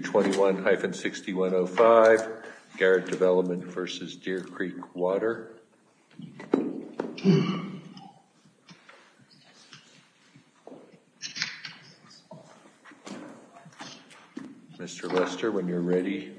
21-6105 Garrett Development v. Deer Creek Water Mr. Lester when you're ready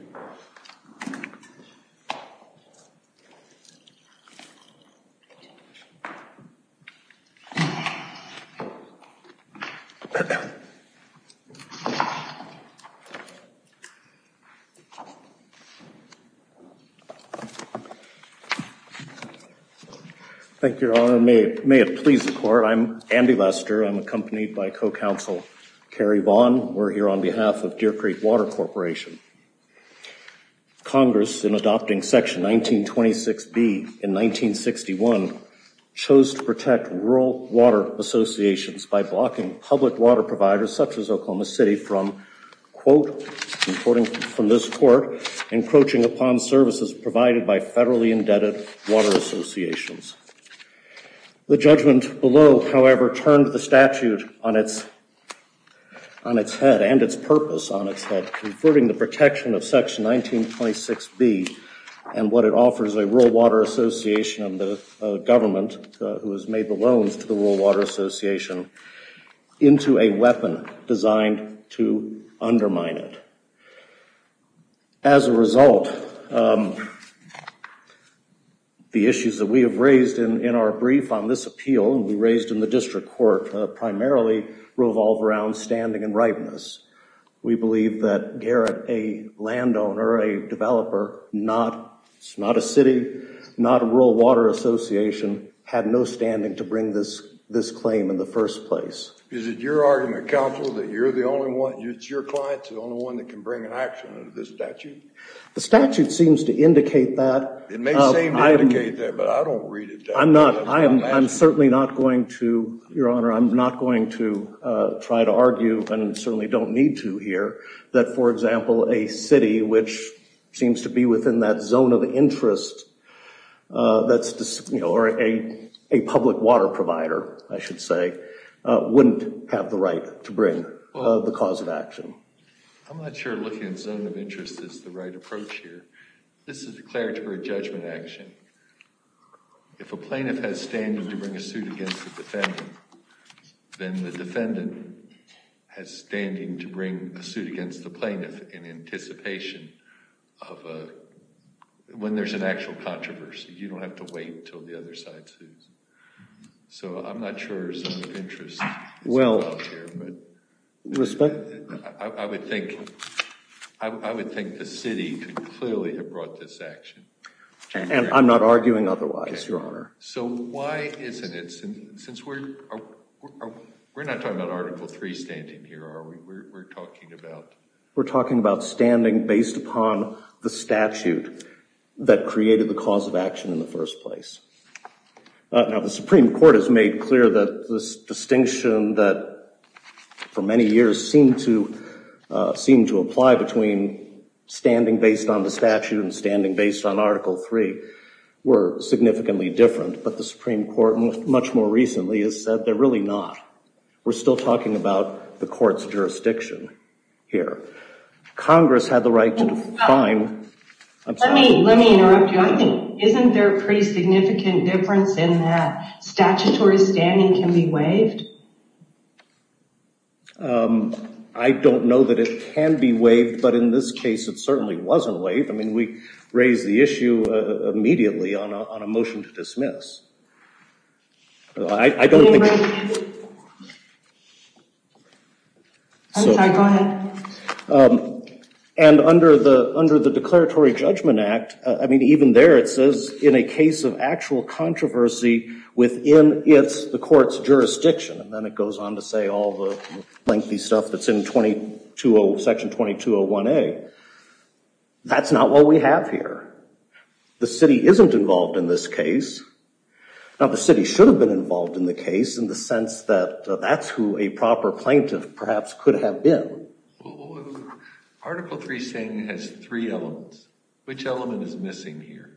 thank your honor may it may it please the court I'm Andy Lester I'm accompanied by co-counsel Kerry Vaughn we're here on behalf of Deer Creek Water Corporation Congress in adopting section 1926 B in 1961 chose to protect rural water associations by blocking public water providers such as Oklahoma City from quote according from this court encroaching upon services provided by federally indebted water associations the judgment below however turned the statute on its on its head and its purpose on its head converting the protection of section 1926 B and what it offers a rural water association and the government who has made the loans to the rural water association into a weapon designed to undermine it as a result the issues that we have raised in in our brief on this appeal and we raised in the district court primarily revolve around standing and ripeness we believe that Garrett a landowner a developer not it's not a city not a rural water association had no standing to bring this this claim in the first place is it your argument counsel that you're the only one it's your clients the only one that can bring an action of this statute the statute seems to indicate that I'm not I am I'm certainly not going to your honor I'm not going to try to argue and certainly don't need to hear that for example a city which seems to be within that zone of interest that's the signal or a a public water provider I should say wouldn't have the right to bring the cause of action I'm not sure looking zone of interest is the right approach here this is declared for a judgment action if a plaintiff has standing to bring a suit against the defendant then the defendant has standing to bring a suit against the plaintiff in anticipation of when there's an actual you don't have to wait till the other side so I'm not sure well I would think I would think the city clearly have brought this action and I'm not arguing otherwise your honor so why isn't it since we're not talking about article three standing here are we we're talking about we're talking about standing based upon the statute that created the cause of action in the first place now the Supreme Court has made clear that this distinction that for many years seemed to seem to apply between standing based on the statute and standing based on article three were significantly different but the Supreme Court and much more recently has said they're really not we're still talking about the I don't know that it can be waived but in this case it certainly wasn't waived I mean we raised the issue immediately on a motion to dismiss I don't and under the under the Declaratory Judgment Act I mean even there it says in a case of actual controversy within it's the court's jurisdiction and then it goes on to say all the lengthy stuff that's in 22 old section 2201 a that's not what we have here the city isn't involved in this case now the city should have been involved in the case in the sense that that's who a proper plaintiff perhaps could have been article three saying has three elements which element is missing here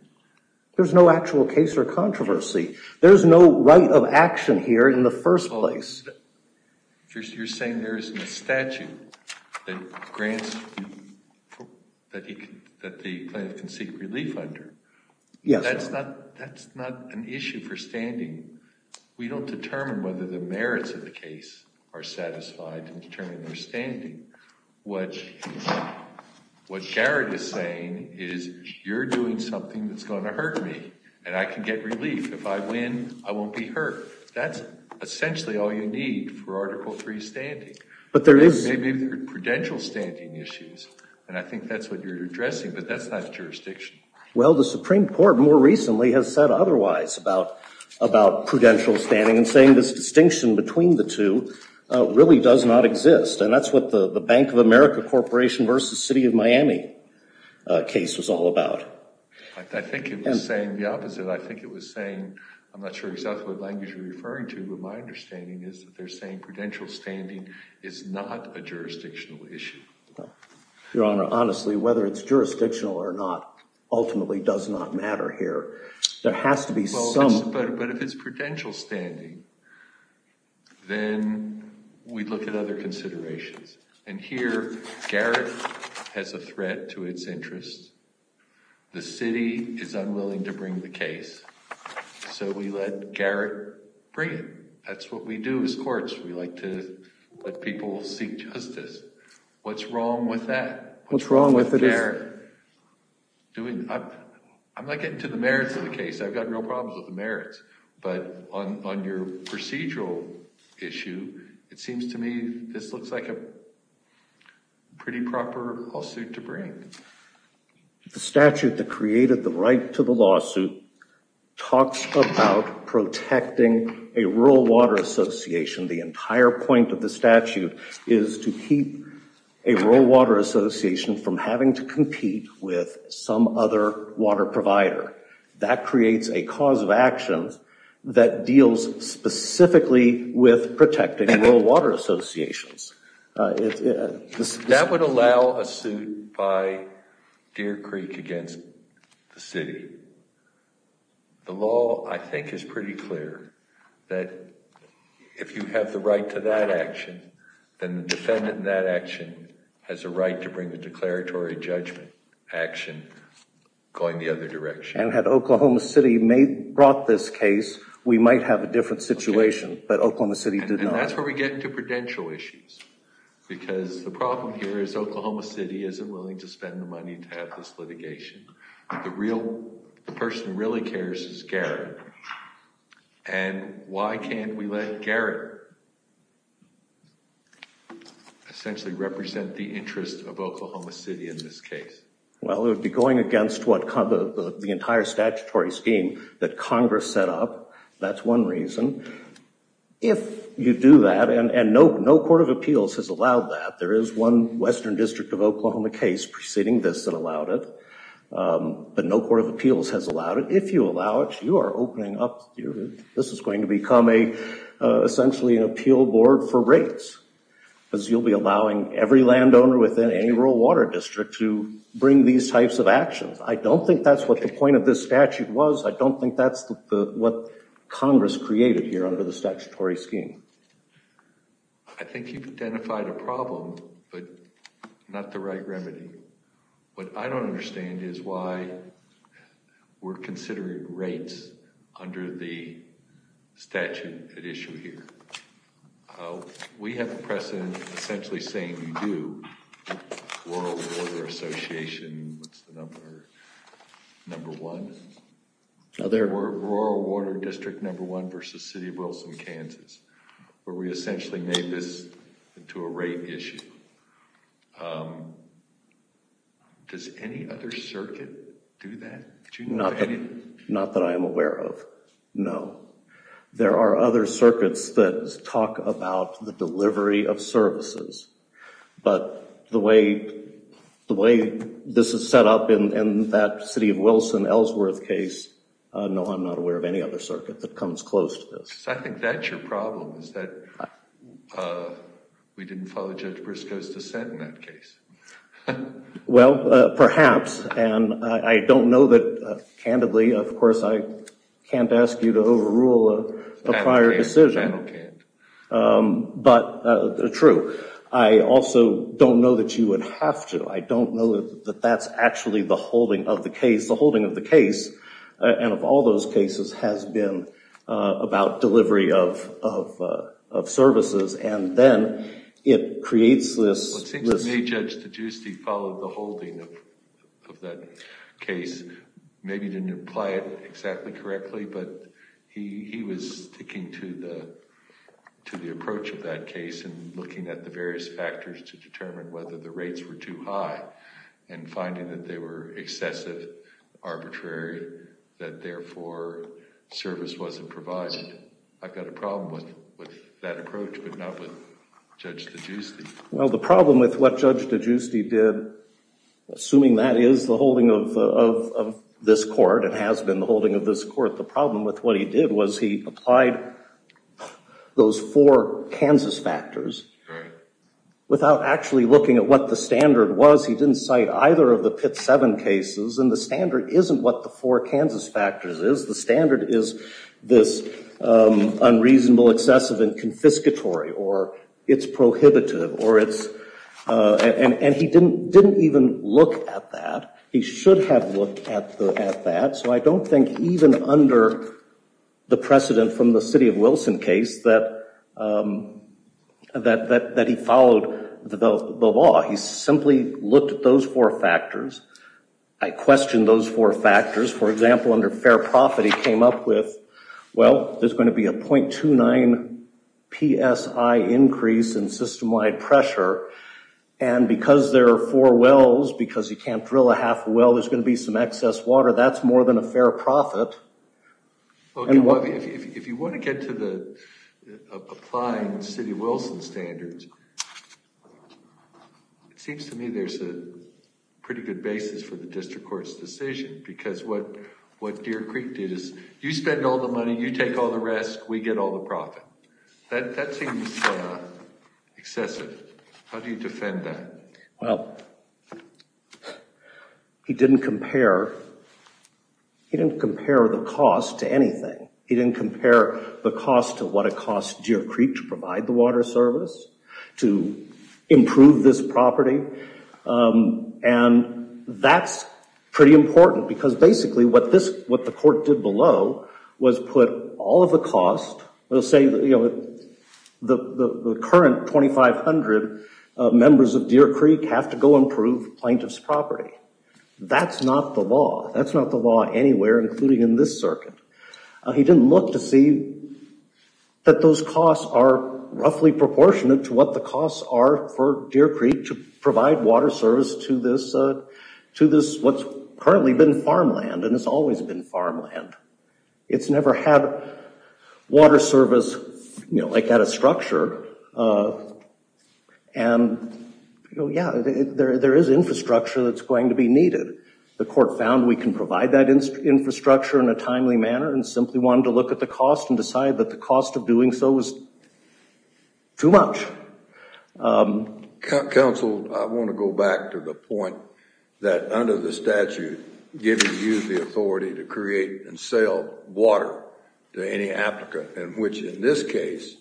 there's no actual case or controversy there's no right of action here in the first place you're saying there isn't a statute that grants that he can seek relief under yes that's not that's not an issue for standing we don't determine whether the merits of the case are satisfied and determine their standing what what Jared is saying is you're doing something that's going to hurt me and I can get relief if I win I won't be hurt that's essentially all you need for article 3 standing but there is maybe the prudential standing issues and I think that's what you're addressing but that's not jurisdiction well the Supreme Court more recently has said otherwise about about prudential standing and saying this distinction between the two really does not exist and that's what the Bank of America Corporation versus City of Miami case was all about I think it was saying the opposite I think it was saying I'm not sure exactly what language you're referring to but my understanding is that they're saying prudential standing is not a jurisdictional issue your honor honestly whether it's jurisdictional or not ultimately does not matter here there then we look at other considerations and here Garrett has a threat to its interests the city is unwilling to bring the case so we let Garrett bring it that's what we do as courts we like to let people seek justice what's wrong with that what's wrong with the Garrett doing I'm not getting to the merits of the merits but on your procedural issue it seems to me this looks like a pretty proper lawsuit to bring the statute that created the right to the lawsuit talks about protecting a rural water association the entire point of the statute is to keep a rural water association from having to compete with some other water provider that creates a cause of action that deals specifically with protecting rural water associations that would allow a suit by Deer Creek against the city the law I think is pretty clear that if you have the right to that action then the defendant in that action has a right to bring the going the other direction and had Oklahoma City may brought this case we might have a different situation but Oklahoma City did and that's where we get into prudential issues because the problem here is Oklahoma City isn't willing to spend the money to have this litigation the real person really cares is Garrett and why can't we let Garrett essentially represent the interest of Oklahoma City in this case well it would be going against what kind of the entire statutory scheme that Congress set up that's one reason if you do that and and no no Court of Appeals has allowed that there is one Western District of Oklahoma case preceding this that allowed it but no Court of Appeals has allowed it if you allow it you are opening up your this is going to become a essentially an appeal board for rates because you'll be allowing every landowner within any rural water district to bring these types of actions I don't think that's what the point of this statute was I don't think that's what Congress created here under the statutory scheme I think you've identified a problem but not the right remedy what I don't understand is why we're considering rates under the Association number one now they're rural water district number one versus City of Wilson Kansas where we essentially made this into a rate issue does any other circuit do that not not that I am aware of no there are other circuits that talk about the delivery of services but the way the way this is set up in that City of Wilson Ellsworth case no I'm not aware of any other circuit that comes close to this I think that's your problem is that we didn't follow Judge Briscoe's dissent in that case well perhaps and I don't know that candidly of course I can't ask you to overrule a prior decision but true I also don't know that you would have to I don't know that that's actually the holding of the case the holding of the case and of all those cases has been about delivery of services and then it creates this followed the holding of that case maybe didn't apply it exactly correctly but he was sticking to the to the approach of that case and looking at the various factors to determine whether the rates were too high and finding that they were excessive arbitrary that therefore service wasn't provided I've got a problem with what Judge DeGiusti did assuming that is the holding of this court it has been the holding of this court the problem with what he did was he applied those four Kansas factors without actually looking at what the standard was he didn't cite either of the pit seven cases and the standard isn't what the four Kansas factors is the standard is this unreasonable excessive and confiscatory or it's prohibitive or it's and and he didn't didn't even look at that he should have looked at the at that so I don't think even under the precedent from the city of Wilson case that that that that he followed the law he simply looked at those four factors I questioned those four factors for example under fair profit he came up with well there's going to be a 0.29 PSI increase in system-wide pressure and because there are four wells because you can't drill a half well there's going to be some excess water that's more than a fair profit and what if you want to get to the applying city Wilson standards it seems to me there's a pretty good basis for the district courts decision because what what Deer Creek did is you spend all the money you take all the risk we get all the profit that seems excessive how do you defend that well he didn't compare he didn't compare the cost to anything he didn't compare the cost of what it cost Deer Creek to provide the water service to improve this property and that's pretty important because basically what this what the court did below was put all of the cost they'll say you know the current 2,500 members of Deer Creek have to go improve plaintiffs property that's not the law that's not the law anywhere including in this circuit he didn't look to see that those costs are roughly proportionate to what the costs are for Deer Creek to provide water service to this to this what's currently been farmland and it's never had water service you know like that a structure and yeah there is infrastructure that's going to be needed the court found we can provide that infrastructure in a timely manner and simply wanted to look at the cost and decide that the cost of doing so was too much council I want to go back to the point that under the statute giving you the authority to create and sell water to any applicant in which in this case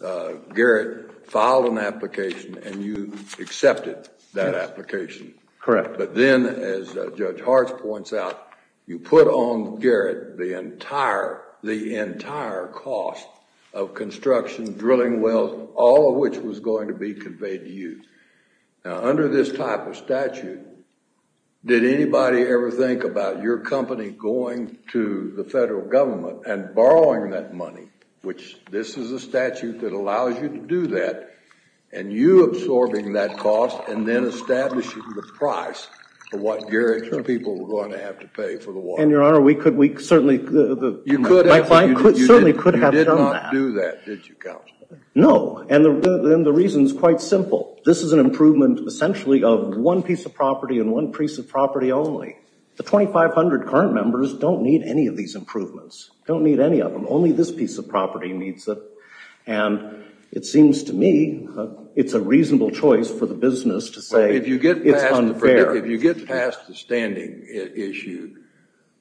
Garrett filed an application and you accepted that application correct but then as Judge Hart points out you put on Garrett the entire the entire cost of construction drilling wells all of which was going to be conveyed to you now under this type of statute did anybody ever think about your company going to the federal government and borrowing that money which this is a statute that allows you to do that and you absorbing that cost and then establishing the price for what Garrett people were going to have to pay for the water and your honor we could we certainly you could do that no and the reasons quite simple this is an improvement essentially of one piece of property and one piece of property only the 2,500 current members don't need any of these improvements don't need any of them only this piece of property needs it and it seems to me it's a reasonable choice for the business to say if you get if you get past the standing issue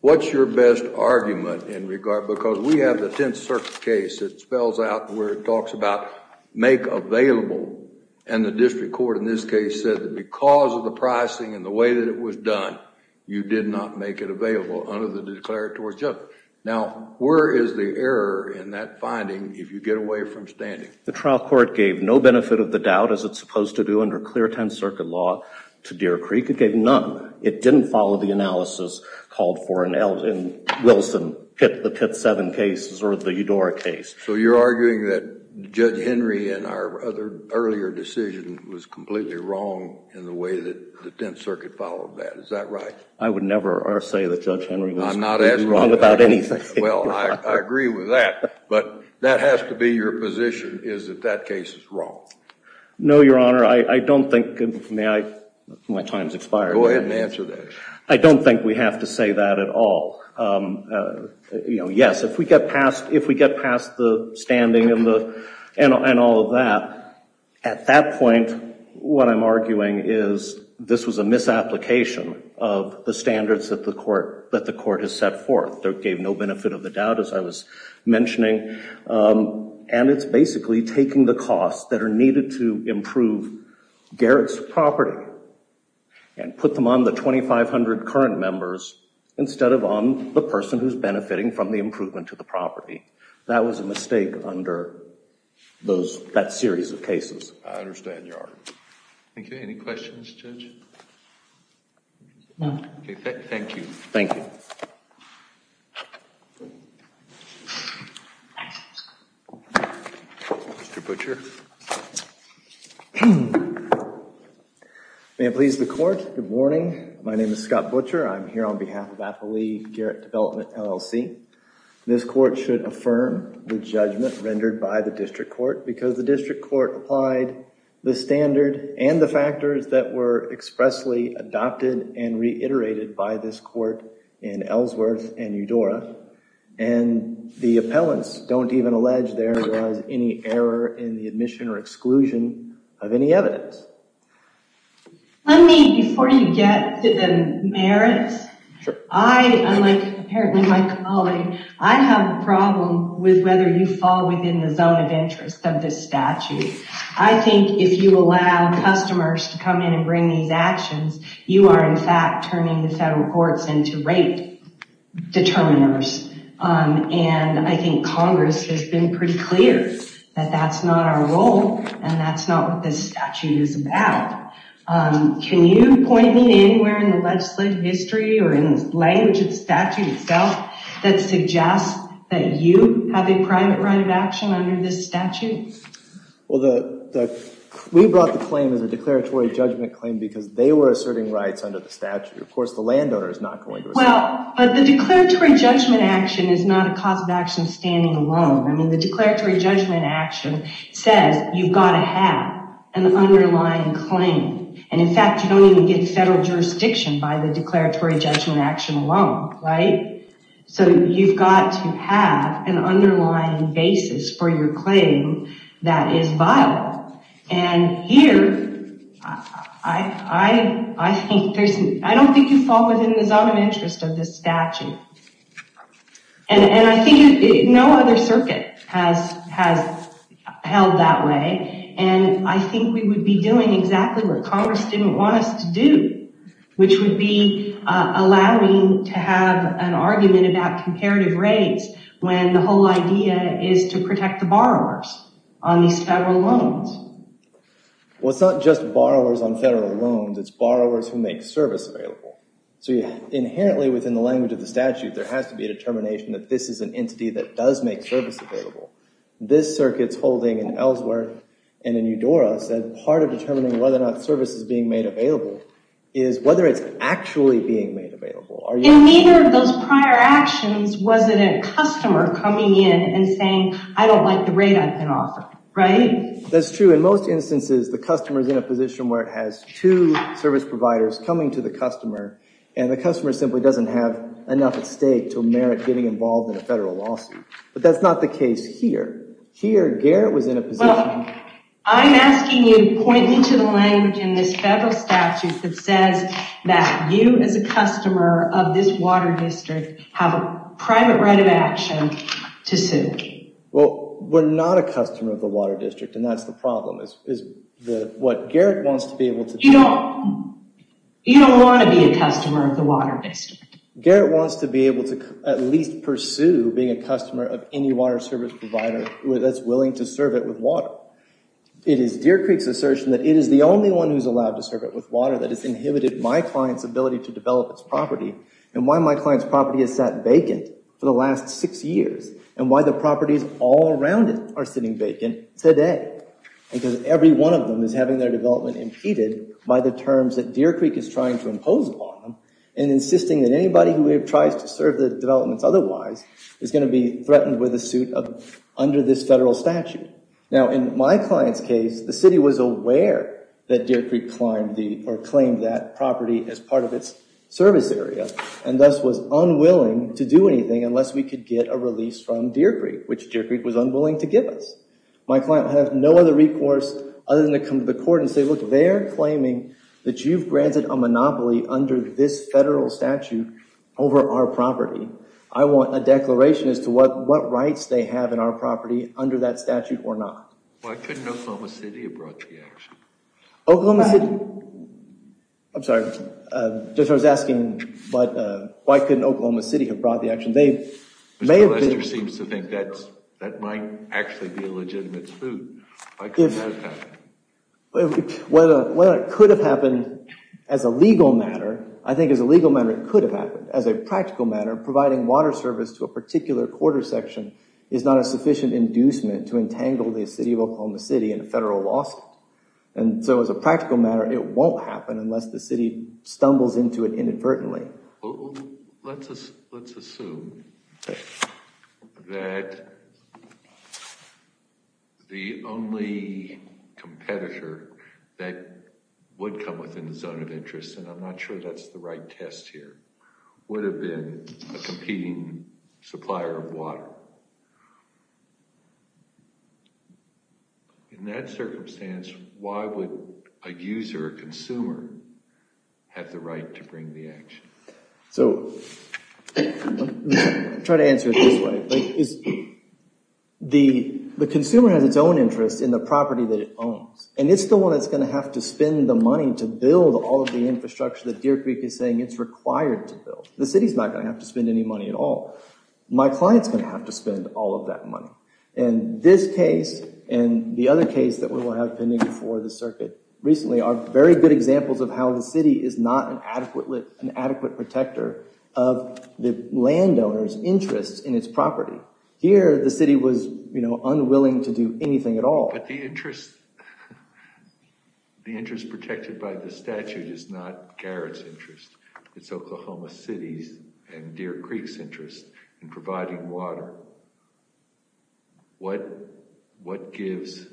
what's your best argument in regard because we have the Tenth Circuit case it spells out where it talks about make available and the district court in this case said that because of the pricing and the way that it was done you did not make it available under the declaratory judgment now where is the error in that finding if you get away from standing the trial court gave no benefit of the doubt as it's supposed to do under clear Tenth Circuit law to Deer Creek it gave none it didn't follow the analysis called for an L and Wilson hit the pit seven cases or the Eudora case so you're arguing that judge Henry and our other earlier decision was completely wrong in the way that the Tenth Circuit followed that is that right I would never say that judge Henry I'm not as wrong about anything well I agree with that but that has to be your position is that that I don't think we have to say that at all you know yes if we get past if we get past the standing and the and all of that at that point what I'm arguing is this was a misapplication of the standards that the court that the court has set forth there gave no benefit of the doubt as I was mentioning and it's basically taking the costs that are needed to improve Garrett's property and put them on the 2,500 current members instead of on the person who's benefiting from the improvement to the property that was a mistake under those that series of cases thank you thank you Mr. Butcher. May it please the court good morning my name is Scott Butcher I'm here on behalf of Appali Garrett Development LLC this court should affirm the judgment rendered by the district court because the district court applied the standard and the factors that were expressly adopted and reiterated by this court in Ellsworth and Eudora and the appellants don't even allege there was any error in the admission or exclusion of any evidence let me before you get to the merits I like apparently my colleague I have a problem with whether you fall within the zone of interest of this statute I think if you allow customers to come in and bring these actions you are in fact turning the federal courts into rate determiners and I think Congress has been pretty clear that that's not our role and that's not what this statute is about can you point me anywhere in the legislative history or in language of statute itself that suggests that you have a private right of action under this statute well the we brought the claim as a declaratory judgment claim because they were asserting rights under the statute of course the landowner is not going to well but the declaratory judgment action is not a cause of action standing alone I mean the declaratory judgment action says you've got to have an underlying claim and in fact you don't even get federal jurisdiction by the declaratory judgment action alone right so you've got to have an underlying basis for your claim that is vile and here I I think there's I don't think you fall within the zone of interest of this statute and I think no other circuit has has held that way and I think we would be doing exactly what Congress didn't want us to do which would be allowing to have an argument about comparative rates when the whole idea is to protect the borrowers on these federal loans what's not just borrowers on federal loans it's borrowers who make service available so you inherently within the language of the statute there has to be a determination that this is an entity that does make service available this circuits holding and elsewhere and in Eudora said part of determining whether or not service is being made available is whether it's actually being made available are you those prior actions was it a customer coming in and saying I don't like the rate I can offer right that's true in most instances the customers in a position where it has to service providers coming to the customer and the customer simply doesn't have enough at stake to merit getting involved in a federal lawsuit but that's not the case here here Garrett was in a position I'm asking you point me to the language in this federal statute that says that you as a customer of this water district have a private right of action to sue well we're not a customer of the water district and that's the problem is what Garrett wants to be able to you know you don't want to be a customer of the water based Garrett wants to be able to at least pursue being a customer of any water service provider that's willing to serve it with water it is Deer Creek's assertion that it is the only one who's allowed to serve it with water that has inhibited my clients ability to develop its property and why my clients property has sat vacant for the last six years and why the properties all around it are sitting vacant today because every one of them is having their development impeded by the terms that Deer Creek is trying to impose upon them and insisting that anybody who tries to serve the developments otherwise is going to be threatened with a suit of under this federal statute now in my clients case the city was aware that Deer Creek climbed the or claimed that property as part of its service area and thus was unwilling to do Deer Creek which Deer Creek was unwilling to give us my client have no other recourse other than to come to the court and say look they're claiming that you've granted a monopoly under this federal statute over our property I want a declaration as to what what rights they have in our property under that statute or not. Why couldn't Oklahoma City have brought the action? Oklahoma City I'm sorry just I was asking but why couldn't Oklahoma City have brought the action? Mr. Lester seems to think that that might actually be a legitimate suit. Why couldn't that have happened? Well it could have happened as a legal matter I think as a legal matter it could have happened as a practical matter providing water service to a particular quarter section is not a sufficient inducement to entangle the city of Oklahoma City in a federal lawsuit and so as a practical matter it won't happen unless the city stumbles into it inadvertently. Let's assume that the only competitor that would come within the zone of interest and I'm not sure that's the right test here would have been a competing supplier of water in that have the right to bring the action. So try to answer it this way. The consumer has its own interest in the property that it owns and it's the one that's going to have to spend the money to build all of the infrastructure that Deer Creek is saying it's required to build. The city's not going to have to spend any money at all. My client's going to have to spend all of that money and this case and the other case that we will have pending before the court. These are great examples of how the city is not an adequate protector of the landowner's interests in its property. Here the city was you know unwilling to do anything at all. But the interest the interest protected by the statute is not Garrett's interest it's Oklahoma City's and Deer Creek's water what what gives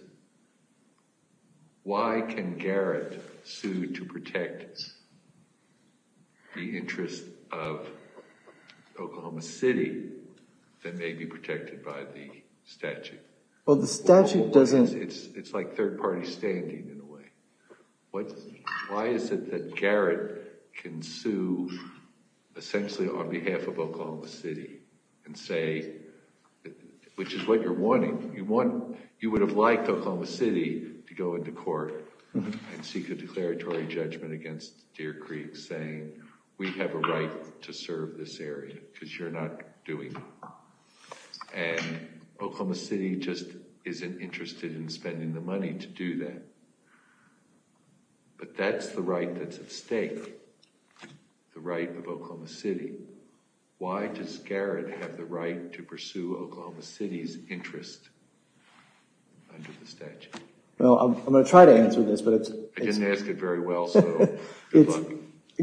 why can Garrett sue to protect the interest of Oklahoma City that may be protected by the statute. Well the statute doesn't. It's it's like third-party standing in a way. What why is it that Garrett can sue essentially on behalf of Oklahoma City and say which is what you're wanting you want you would have liked Oklahoma City to go into court and seek a declaratory judgment against Deer Creek saying we have a right to serve this area because you're not doing and Oklahoma City just isn't interested in spending the money to do that. But that's the right that's at stake. The right of Oklahoma City. Why does Garrett have the right to pursue Oklahoma City's interest under the statute? Well I'm going to try to answer this but it's. I didn't ask it very well.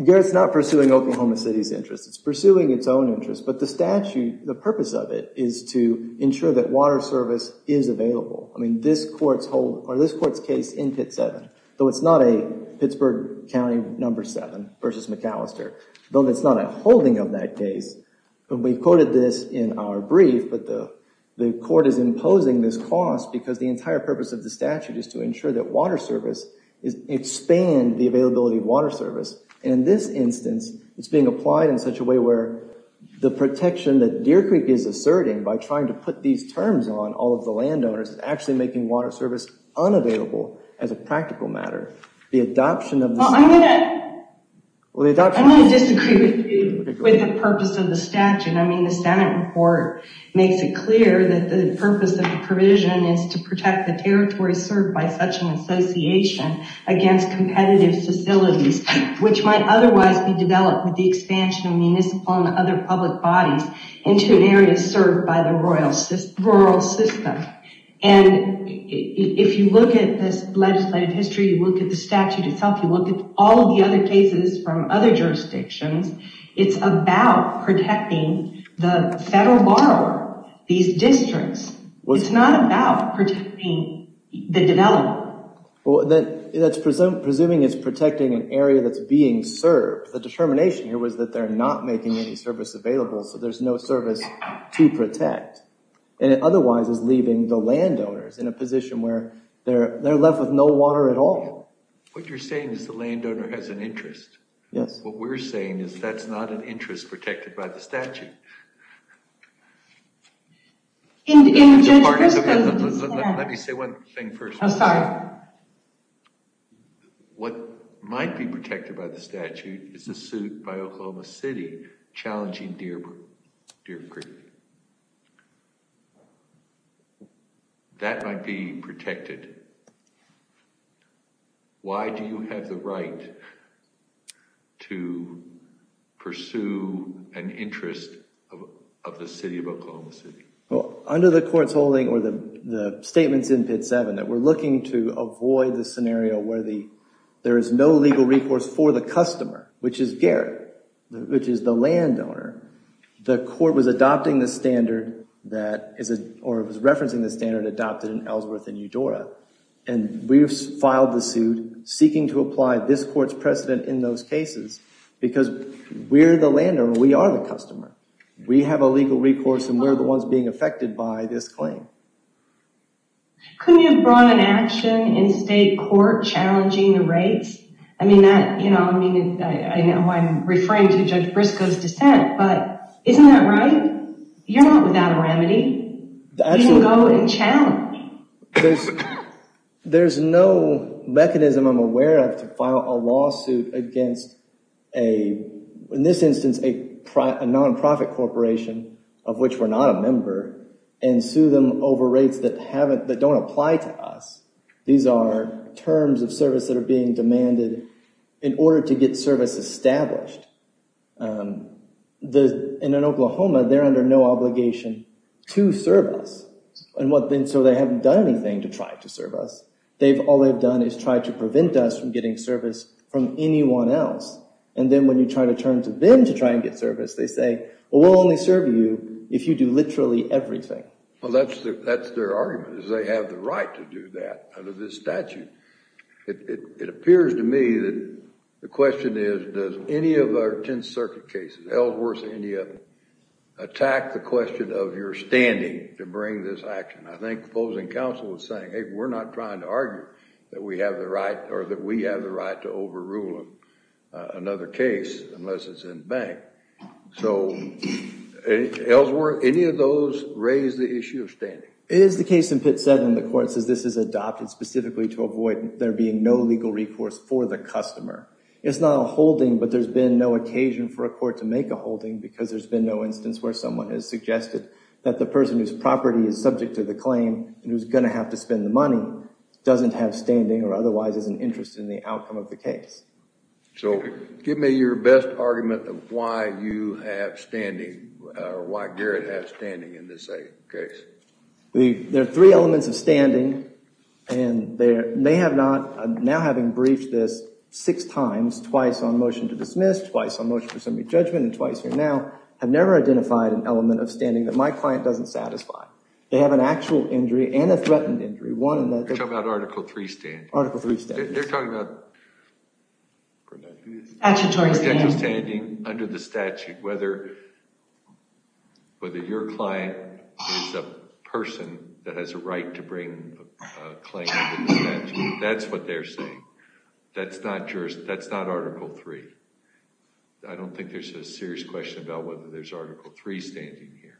Garrett's not pursuing Oklahoma City's interest. It's pursuing its own interest but the statute the purpose of it is to ensure that water service is available. I this court's case in Pit 7 though it's not a Pittsburgh County number 7 versus McAllister though it's not a holding of that case but we quoted this in our brief but the the court is imposing this cost because the entire purpose of the statute is to ensure that water service is expand the availability of water service and in this instance it's being applied in such a way where the protection that Deer Creek is asserting by trying to put these terms on all of the landowners is actually making water service unavailable as a practical matter. The adoption of the statute makes it clear that the purpose of the provision is to protect the territory served by such an association against competitive facilities which might otherwise be developed with the expansion of municipal and other public bodies into an area served by the rural system and if you look at this legislative history you look at the statute itself you look at all the other cases from other jurisdictions it's about protecting the federal borrower these districts. It's not about protecting the development. Well that that's presuming it's protecting an area that's being served. The determination here was that they're not making any service available so there's no service to protect and it otherwise is leaving the landowners in a position where they're they're left with no water at all. What you're saying is the landowner has an interest. Yes. What we're saying is that's not an interest protected by the statute. What might be challenging, that might be protected. Why do you have the right to pursue an interest of the City of Oklahoma City? Well under the court's holding or the the statements in Pit 7 that we're looking to avoid the scenario where the legal recourse for the customer which is Gary which is the landowner the court was adopting the standard that is a or it was referencing the standard adopted in Ellsworth and Eudora and we've filed the suit seeking to apply this court's precedent in those cases because we're the landowner we are the customer we have a legal recourse and we're the ones being affected by this claim. Couldn't you have an action in state court challenging the rates? I mean that you know I mean I know I'm referring to Judge Briscoe's dissent but isn't that right? You're not without a remedy. You can go and challenge. There's no mechanism I'm aware of to file a lawsuit against a in this instance a nonprofit corporation of which we're not a member and sue them over rates that haven't that don't apply to us. These are terms of service that are being demanded in order to get service established. In Oklahoma they're under no obligation to serve us and what then so they haven't done anything to try to serve us. They've all they've done is try to prevent us from getting service from anyone else and then when you try to turn to them to try and get service they say well we'll only serve you if you do literally everything. Well that's that's their argument is they have the right to do that under this statute. It appears to me that the question is does any of our Tenth Circuit cases, Ellsworth any of them, attack the question of your standing to bring this action. I think opposing counsel is saying hey we're not trying to argue that we have the right or that we have the right to overrule another case unless it's in bank. So Ellsworth any of those raise the issue of standing? It is the case in Pitt 7 the court says this is adopted specifically to avoid there being no legal recourse for the customer. It's not a holding but there's been no occasion for a court to make a holding because there's been no instance where someone has suggested that the person whose property is subject to the claim and who's going to have to spend the money doesn't have standing or your best argument of why you have standing or why Garrett has standing in this case? There are three elements of standing and they have not now having breached this six times twice on motion to dismiss twice on motion for assembly judgment and twice here now have never identified an element of standing that my client doesn't satisfy. They have an actual injury and a standing under the statute whether whether your client is a person that has a right to bring a claim that's what they're saying. That's not article 3. I don't think there's a serious question about whether there's article 3 standing here.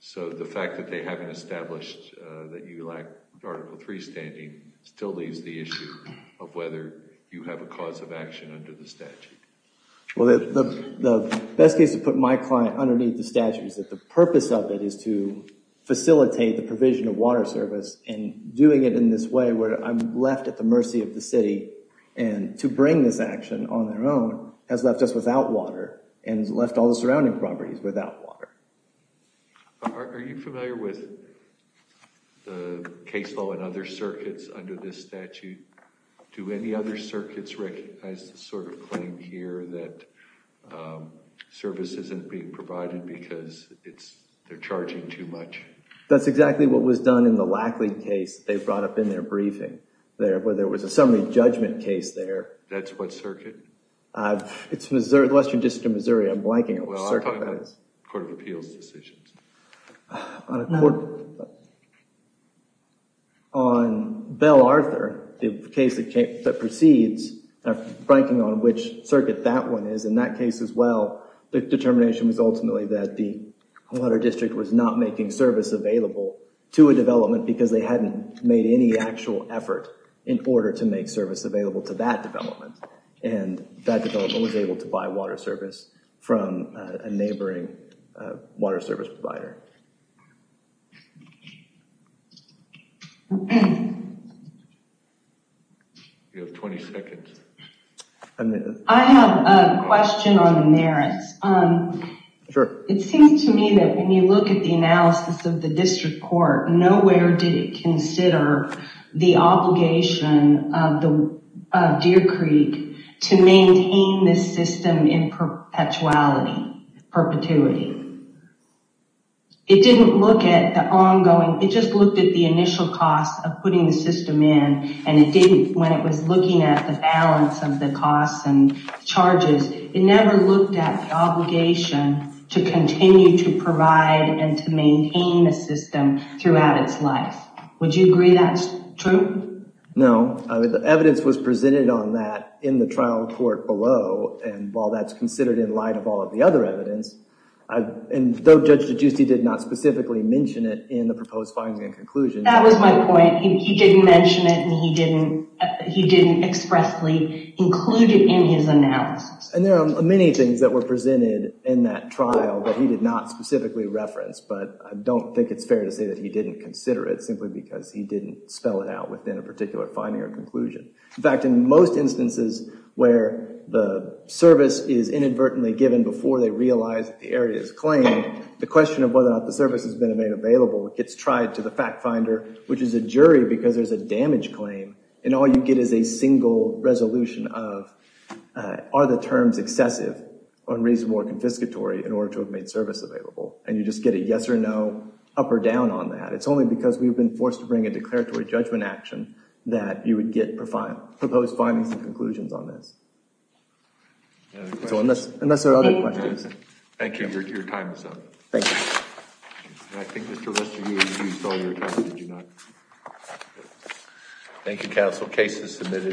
So the fact that they haven't established that you lack article 3 standing still leaves the issue of whether you have a cause of Well the best case to put my client underneath the statute is that the purpose of it is to facilitate the provision of water service and doing it in this way where I'm left at the mercy of the city and to bring this action on their own has left us without water and left all the surrounding properties without water. Are you familiar with the case law and other circuits under this claim here that service isn't being provided because it's they're charging too much? That's exactly what was done in the Lackley case they brought up in their briefing there where there was a summary judgment case there. That's what circuit? It's the Western District of Missouri. I'm blanking on which circuit that is. Well I'm talking about court of appeals decisions. On Bell Arthur the case that proceeds, I'm blanking on which circuit that one is, in that case as well the determination was ultimately that the water district was not making service available to a development because they hadn't made any actual effort in order to make service available to that development and that development was able to buy water service from a neighboring water service provider. I have a question on the merits. It seems to me that when you look at the analysis of the district court nowhere did it consider the obligation of the Deer system in perpetuality, perpetuity. It didn't look at the ongoing, it just looked at the initial cost of putting the system in and it didn't when it was looking at the balance of the costs and charges. It never looked at the obligation to continue to provide and to maintain the system throughout its life. Would you agree that's true? No, the evidence was presented on that in the trial court below and while that's considered in light of all of the other evidence and though Judge DeGiusti did not specifically mention it in the proposed finding and conclusion. That was my point, he didn't mention it and he didn't expressly include it in his analysis. And there are many things that were presented in that trial that he did not specifically reference but I don't think it's fair to say that he didn't consider it simply because he didn't spell it out in a particular finding or conclusion. In fact, in most instances where the service is inadvertently given before they realize the area is claimed, the question of whether or not the service has been made available gets tried to the fact finder, which is a jury, because there's a damage claim and all you get is a single resolution of are the terms excessive, unreasonable, confiscatory in order to have made service available. And you just get a yes or no, up or down on that. It's only because we've been forced to bring a declaratory judgment action that you would get proposed findings and conclusions on this. Unless there are other questions. Thank you. Your time is up. Thank you, counsel. Case is submitted.